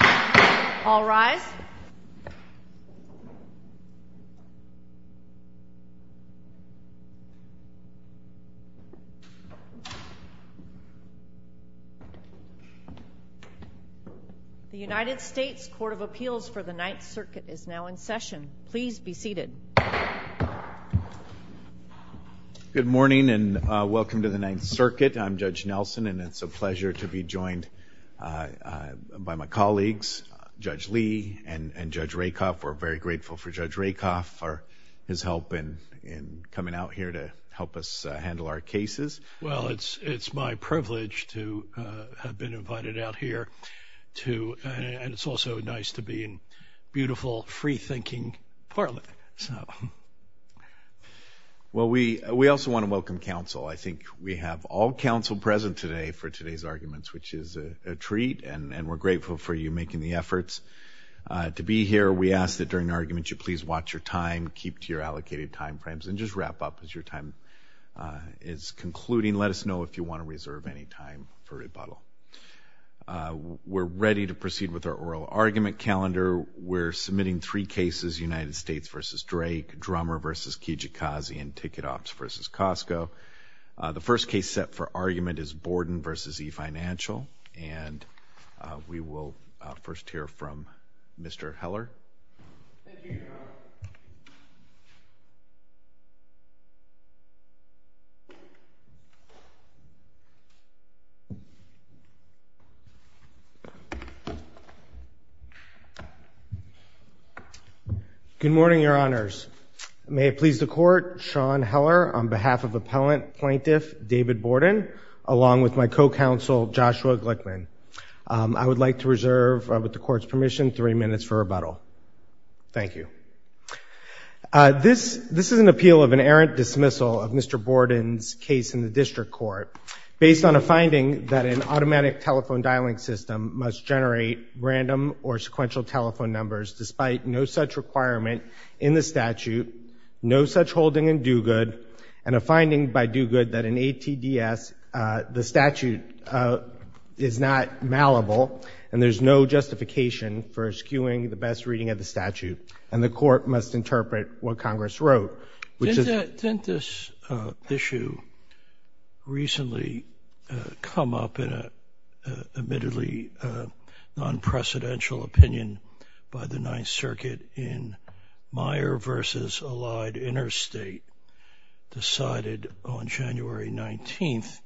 The United States Court of Appeals for the Ninth Circuit is now in session. Please be seated. Good morning and welcome to the Ninth Circuit. I'm Judge Nelson, and it's a pleasure to be joined by my colleagues, Judge Lee and Judge Rakoff. We're very grateful for Judge Rakoff for his help in coming out here to help us handle our cases. Well, it's my privilege to have been invited out here to, and it's also nice to be in beautiful, free-thinking parlor, so. Well we also want to welcome counsel. I think we have all counsel present today for today's arguments, which is a treat, and we're grateful for you making the efforts to be here. We ask that during the argument you please watch your time, keep to your allocated time frames, and just wrap up as your time is concluding. Let us know if you want to reserve any time for rebuttal. We're ready to proceed with our oral argument calendar. We're submitting three cases, United States v. Drake, Drummer v. Kijikazi, and Ticket Shops v. Costco. The first case set for argument is Borden v. E-Financial, and we will first hear from Mr. Heller. Good morning, Your Honors. May it please the Court, Sean Heller on behalf of Appellant Plaintiff David Borden, along with my co-counsel Joshua Glickman. I would like to reserve, with the Court's permission, three minutes for rebuttal. Thank you. This is an appeal of an errant dismissal of Mr. Borden's case in the District Court, based on a finding that an automatic telephone dialing system must generate random or sequential telephone numbers, despite no such requirement in the statute, no such holding in do-good, and a finding by do-good that in ATDS the statute is not malleable, and there's no justification for eschewing the best reading of the statute, and the Court must interpret what Congress wrote, which is— This issue recently come up in a, admittedly, non-precedential opinion by the Ninth Circuit in Meyer v. Allied Interstate, decided on January 19th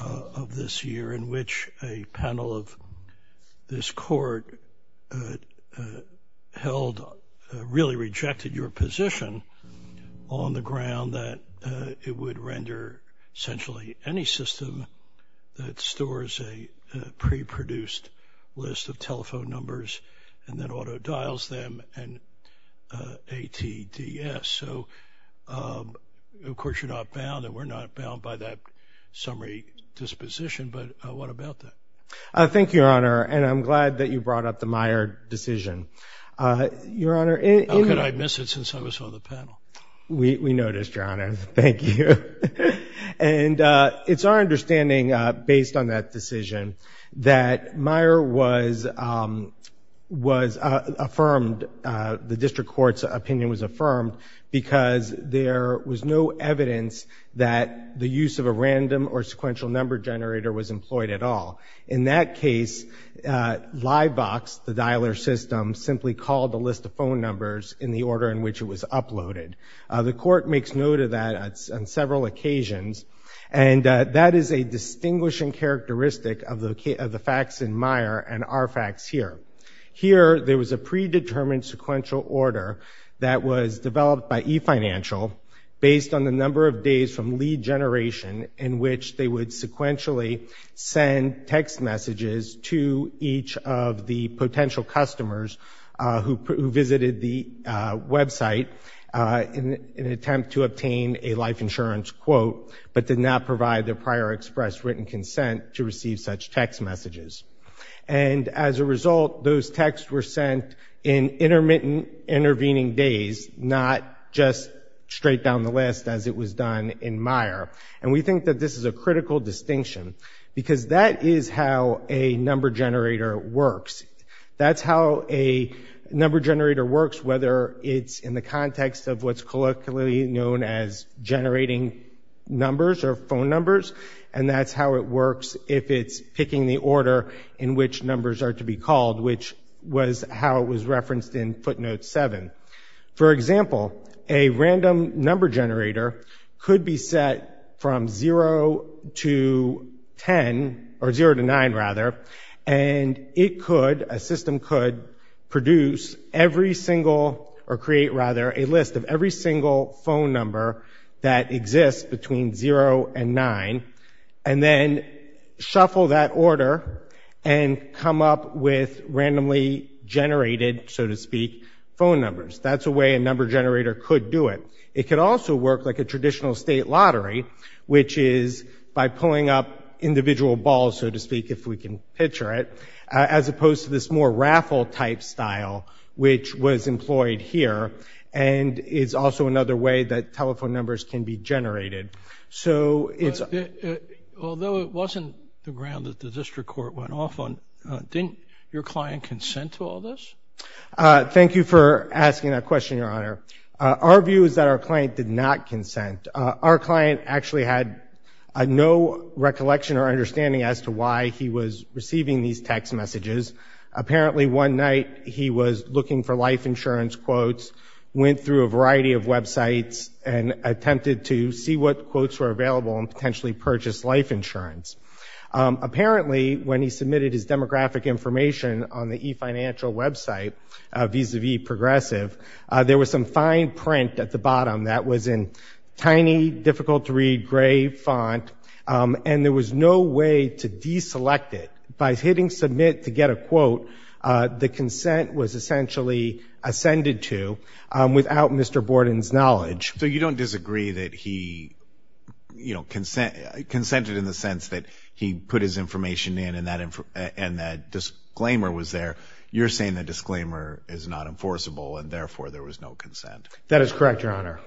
of this year, in which a panel of this Court held—really rejected your position on the ground that it would render, essentially, any system that stores a pre-produced list of telephone numbers and then auto-dials them in ATDS, so, of course, you're not bound, and we're not bound by that summary disposition, but what about that? Thank you, Your Honor, and I'm glad that you brought up the Meyer decision. Your Honor— How could I have missed it since I was on the panel? We noticed, Your Honor, thank you. And it's our understanding, based on that decision, that Meyer was affirmed—the District Court's opinion was affirmed because there was no evidence that the use of a random or In that case, LiveVox, the dialer system, simply called the list of phone numbers in the order in which it was uploaded. The Court makes note of that on several occasions, and that is a distinguishing characteristic of the facts in Meyer and our facts here. Here, there was a predetermined sequential order that was developed by eFinancial based on the number of days from lead generation in which they would sequentially send text messages to each of the potential customers who visited the website in an attempt to obtain a life insurance quote but did not provide their prior express written consent to receive such text messages. And as a result, those texts were sent in intermittent intervening days, not just straight down the list as it was done in Meyer. And we think that this is a critical distinction because that is how a number generator works. That's how a number generator works, whether it's in the context of what's colloquially known as generating numbers or phone numbers, and that's how it works if it's picking the order in which numbers are to be called, which was how it was referenced in footnote 7. For example, a random number generator could be set from 0 to 10, or 0 to 9, rather, and it could, a system could, produce every single, or create, rather, a list of every single phone number that exists between 0 and 9, and then shuffle that order and come up with numbers. That's a way a number generator could do it. It could also work like a traditional state lottery, which is by pulling up individual balls, so to speak, if we can picture it, as opposed to this more raffle-type style, which was employed here, and is also another way that telephone numbers can be generated. So it's... Although it wasn't the ground that the district court went off on, didn't your client consent to all this? Thank you for asking that question, Your Honor. Our view is that our client did not consent. Our client actually had no recollection or understanding as to why he was receiving these text messages. Apparently, one night, he was looking for life insurance quotes, went through a variety of websites, and attempted to see what quotes were available, and potentially purchased life insurance. Apparently, when he submitted his demographic information on the eFinancial website, vis-a-vis Progressive, there was some fine print at the bottom that was in tiny, difficult-to-read gray font, and there was no way to deselect it. By hitting submit to get a quote, the consent was essentially ascended to without Mr. Borden's knowledge. So you don't disagree that he consented in the sense that he put his information in and that disclaimer was there. You're saying the disclaimer is not enforceable, and therefore, there was no consent. That is correct, Your Honor.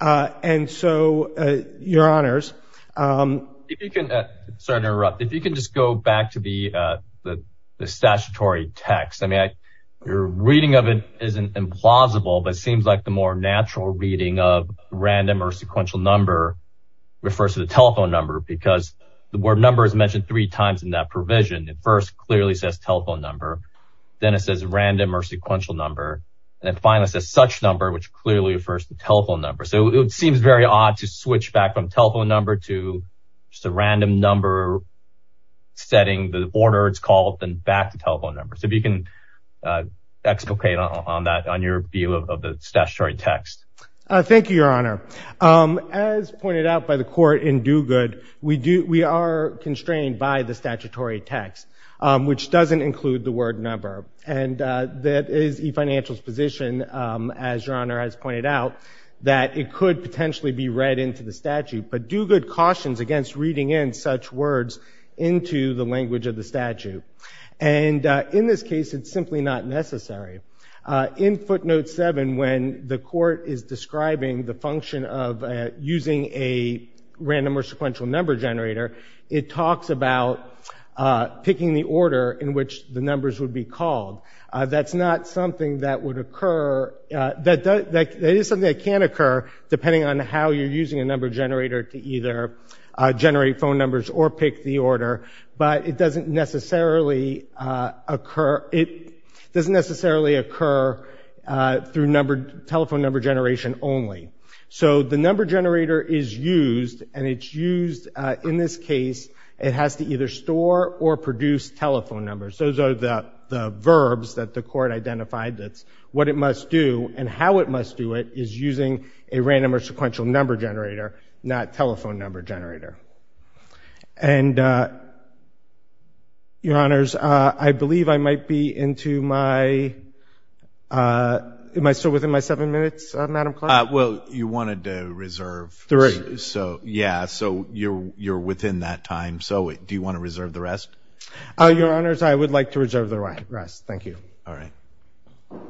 And so, Your Honors... If you can... Sorry to interrupt. If you can just go back to the statutory text. I mean, your reading of it isn't implausible, but it seems like the more natural reading of random or sequential number refers to the telephone number, because the word number is mentioned three times in that provision. It first clearly says telephone number, then it says random or sequential number, and then finally says such number, which clearly refers to telephone number. So it seems very odd to switch back from telephone number to just a random number, setting the order it's called, then back to telephone number. So if you can explicate on that, on your view of the statutory text. Thank you, Your Honor. As pointed out by the court in Duguid, we are constrained by the statutory text, which doesn't include the word number. And that is e-Financial's position, as Your Honor has pointed out, that it could potentially be read into the statute, but Duguid cautions against reading in such words into the language of the statute. And in this case, it's simply not necessary. In footnote 7, when the court is describing the function of using a random or sequential number generator, it talks about picking the order in which the numbers would be called. That's not something that would occur, that is something that can occur, depending on how you're using a number generator to either generate phone numbers or pick the order, but it doesn't necessarily occur through telephone number generation only. So the number generator is used, and it's used in this case, it has to either store or produce telephone numbers. Those are the verbs that the court identified that's what it must do, and how it must do it is using a random or sequential number generator, not telephone number generator. And, Your Honors, I believe I might be into my, am I still within my seven minutes, Madam Clerk? Well, you wanted to reserve. Three. Yeah, so you're within that time, so do you want to reserve the rest? Your Honors, I would like to reserve the rest, thank you. All right. Good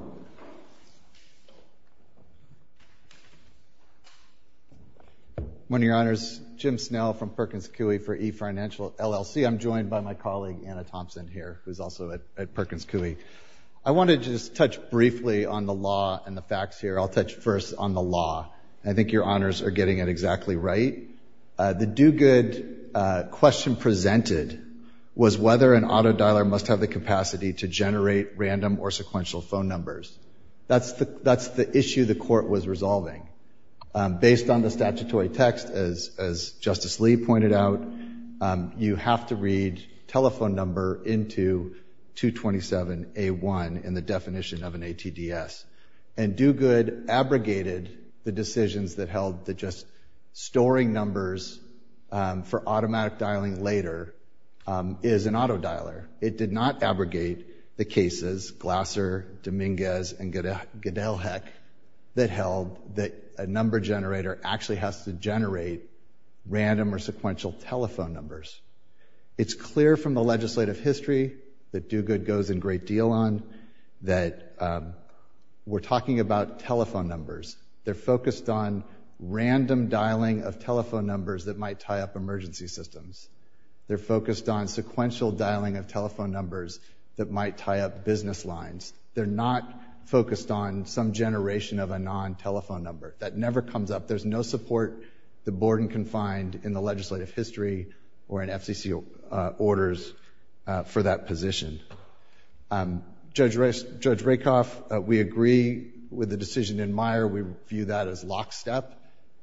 morning, Your Honors. Jim Snell from Perkins Coie for eFinancial, LLC. I'm joined by my colleague, Anna Thompson here, who's also at Perkins Coie. I want to just touch briefly on the law and the facts here. I'll touch first on the law, and I think Your Honors are getting it exactly right. The do-good question presented was whether an auto dialer must have the capacity to generate random or sequential phone numbers. That's the issue the court was resolving. Based on the statutory text, as Justice Lee pointed out, you have to read telephone number into 227A1 in the definition of an ATDS. And do-good abrogated the decisions that held that just storing numbers for automatic dialing later is an auto dialer. It did not abrogate the cases, Glasser, Dominguez, and Gedelhek, that held that a number generator actually has to generate random or sequential telephone numbers. It's clear from the legislative history that do-good goes in great deal on that we're talking about telephone numbers. They're focused on random dialing of telephone numbers that might tie up emergency systems. They're focused on sequential dialing of telephone numbers that might tie up business lines. They're not focused on some generation of a non-telephone number. That never comes up. There's no support that Borden can find in the legislative history or in FCC orders for that position. Judge Rakoff, we agree with the decision in Meyer. We view that as lockstep.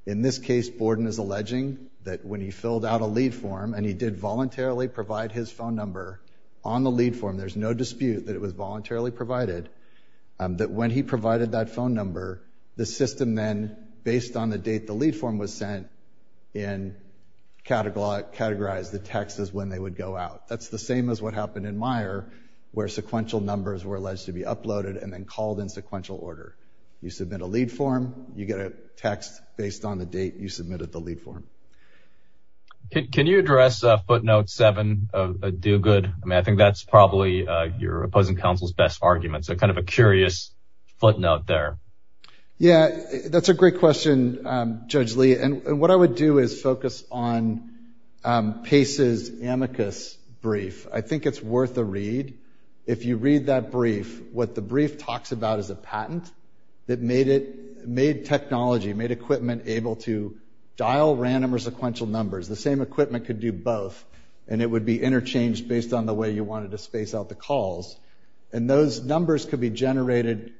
In this case, Borden is alleging that when he filled out a lead form and he did voluntarily provide his phone number on the lead form, there's no dispute that it was voluntarily provided, that when he provided that phone number, the system then, based on the date the lead form was sent, categorized the text as when they would go out. That's the same as what happened in Meyer, where sequential numbers were alleged to be uploaded and then called in sequential order. You submit a lead form, you get a text based on the date you submitted the lead form. Can you address footnote seven of a do-good? I mean, I think that's probably your opposing counsel's best argument, so kind of a curious footnote there. Yeah, that's a great question, Judge Lee, and what I would do is focus on Pace's amicus brief. I think it's worth a read. If you read that brief, what the brief talks about is a patent that made technology, made equipment able to dial random or sequential numbers. The same equipment could do both, and it would be interchanged based on the way you wanted to space out the calls. Those numbers could be generated,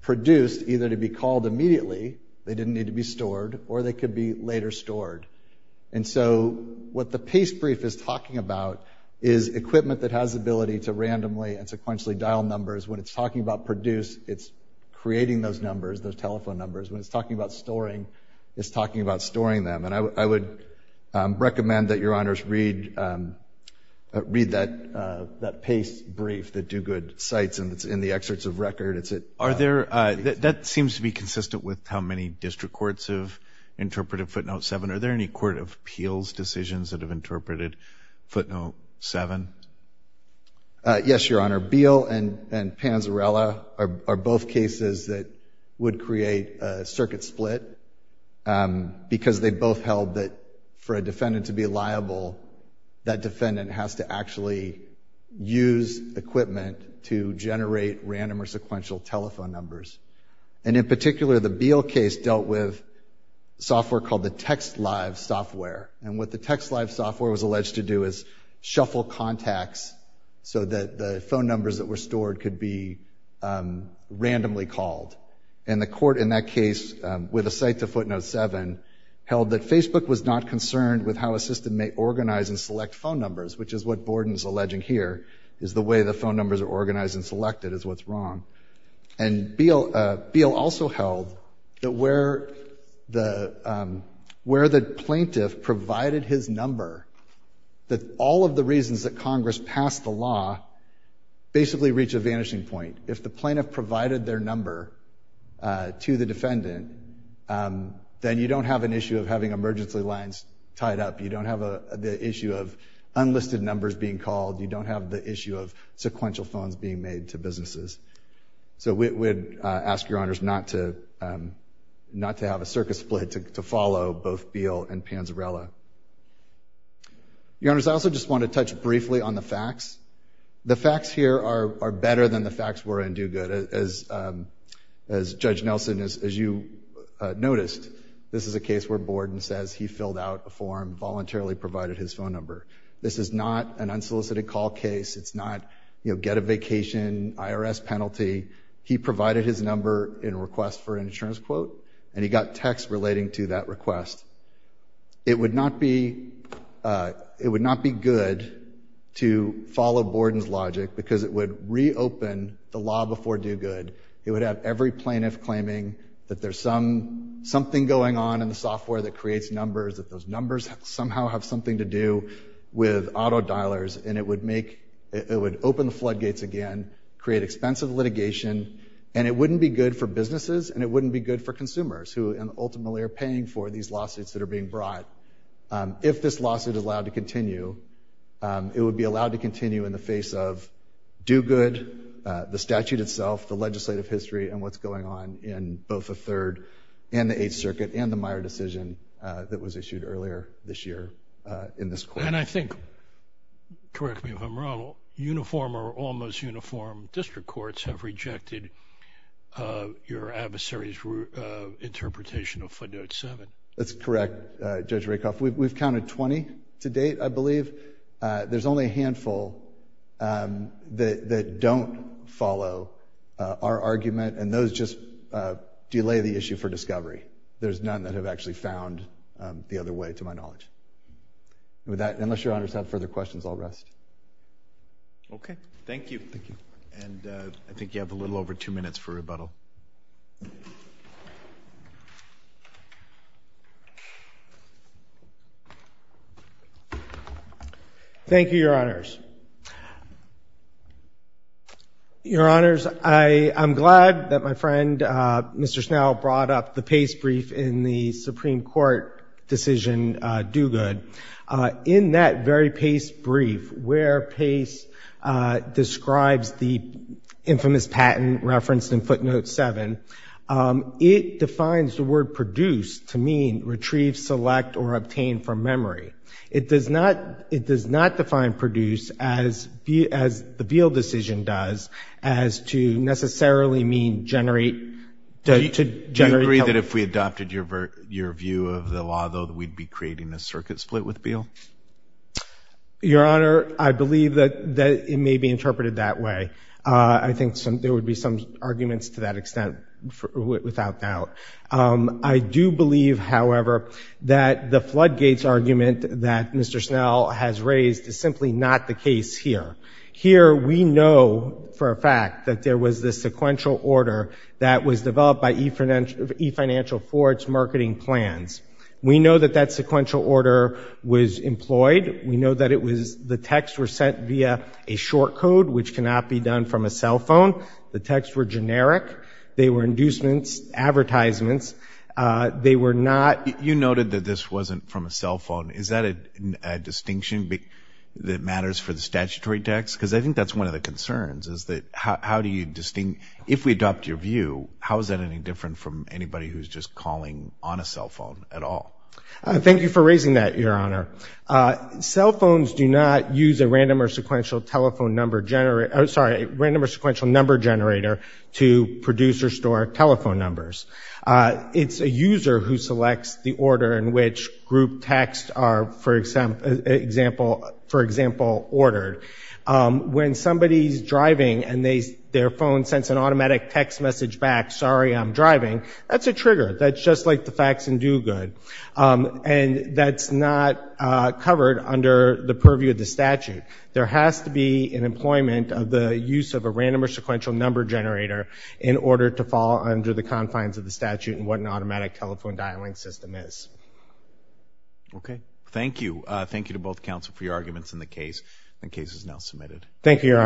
produced, either to be called immediately, they didn't need to be stored, or they could be later stored. And so what the Pace brief is talking about is equipment that has ability to randomly and sequentially dial numbers. When it's talking about produce, it's creating those numbers, those telephone numbers. When it's talking about storing, it's talking about storing them. And I would recommend that your honors read that Pace brief, the do-good cites, and it's in the excerpts of record. That seems to be consistent with how many district courts have interpreted footnote seven. Are there any court of appeals decisions that have interpreted footnote seven? Yes, your honor. Beal and Panzarella are both cases that would create a circuit split because they both held that for a defendant to be liable, that defendant has to actually use equipment to generate random or sequential telephone numbers. And in particular, the Beal case dealt with software called the TextLive software. And what the TextLive software was alleged to do is shuffle contacts so that the phone numbers that were stored could be randomly called. And the court in that case, with a cite to footnote seven, held that Facebook was not concerned with how a system may organize and select phone numbers, which is what Borden is alleging here, is the way the phone numbers are organized and selected is what's wrong. And Beal also held that where the plaintiff provided his number, that all of the reasons that Congress passed the law basically reach a vanishing point. If the plaintiff provided their number to the defendant, then you don't have an issue of having emergency lines tied up. You don't have the issue of unlisted numbers being called. You don't have the issue of sequential phones being made to businesses. So we would ask your honors not to have a circuit split to follow both Beal and Panzarella. Your honors, I also just want to touch briefly on the facts. The facts here are better than the facts were in Duguid. As Judge Nelson, as you noticed, this is a case where Borden says he filled out a form, voluntarily provided his phone number. This is not an unsolicited call case. It's not, you know, get a vacation, IRS penalty. He provided his number in request for an insurance quote, and he got text relating to that request. It would not be good to follow Borden's logic because it would reopen the law before Duguid. It would have every plaintiff claiming that there's something going on in the software that creates numbers, that those numbers somehow have something to do with auto dialers, and it would make, it would open the floodgates again, create expensive litigation, and it wouldn't be good for businesses, and it wouldn't be good for consumers who ultimately are paying for these lawsuits that are being brought. If this lawsuit is allowed to continue, it would be allowed to continue in the face of Duguid, the statute itself, the legislative history, and what's going on in both the Third and the Eighth Circuit and the Meyer decision that was issued earlier this year in this court. And I think, correct me if I'm wrong, uniform or almost uniform district courts have rejected your adversary's interpretation of footnote seven. That's correct, Judge Rakoff. We've counted 20 to date, I believe. There's only a handful that don't follow our argument, and those just delay the issue for discovery. There's none that have actually found the other way, to my knowledge. With that, unless your honors have further questions, I'll rest. Okay. Thank you. Thank you. And I think you have a little over two minutes for rebuttal. Thank you, your honors. Your honors, I'm glad that my friend, Mr. Snell, brought up the Pace brief in the Supreme Court decision, Duguid. In that very Pace brief, where Pace describes the infamous patent referenced in footnote seven, it defines the word produce to mean retrieve, select, or obtain from memory. It does not define produce as the Beal decision does, as to necessarily mean generate. Do you agree that if we adopted your view of the law, though, that we'd be creating a circuit split with Beal? Your honor, I believe that it may be interpreted that way. I think there would be some arguments to that extent, without doubt. I do believe, however, that the Floodgates argument that Mr. Snell has raised is simply not the case here. Here, we know for a fact that there was this sequential order that was developed by eFinancial for its marketing plans. We know that that sequential order was employed. We know that the texts were sent via a short code, which cannot be done from a cell phone. The texts were generic. They were inducements, advertisements. They were not... You noted that this wasn't from a cell phone. Is that a distinction that matters for the statutory text? Because I think that's one of the concerns, is that how do you distinct... If we adopt your view, how is that any different from anybody who's just calling on a cell phone at all? Thank you for raising that, your honor. Cell phones do not use a random or sequential telephone number generator... Producers store telephone numbers. It's a user who selects the order in which group texts are, for example, ordered. When somebody's driving and their phone sends an automatic text message back, sorry, I'm driving, that's a trigger. That's just like the fax and do good. And that's not covered under the purview of the statute. There has to be an employment of the use of a random or sequential number generator in order to fall under the confines of the statute and what an automatic telephone dialing system is. Okay. Thank you. Thank you to both counsel for your arguments in the case. The case is now submitted. Thank you, your honors.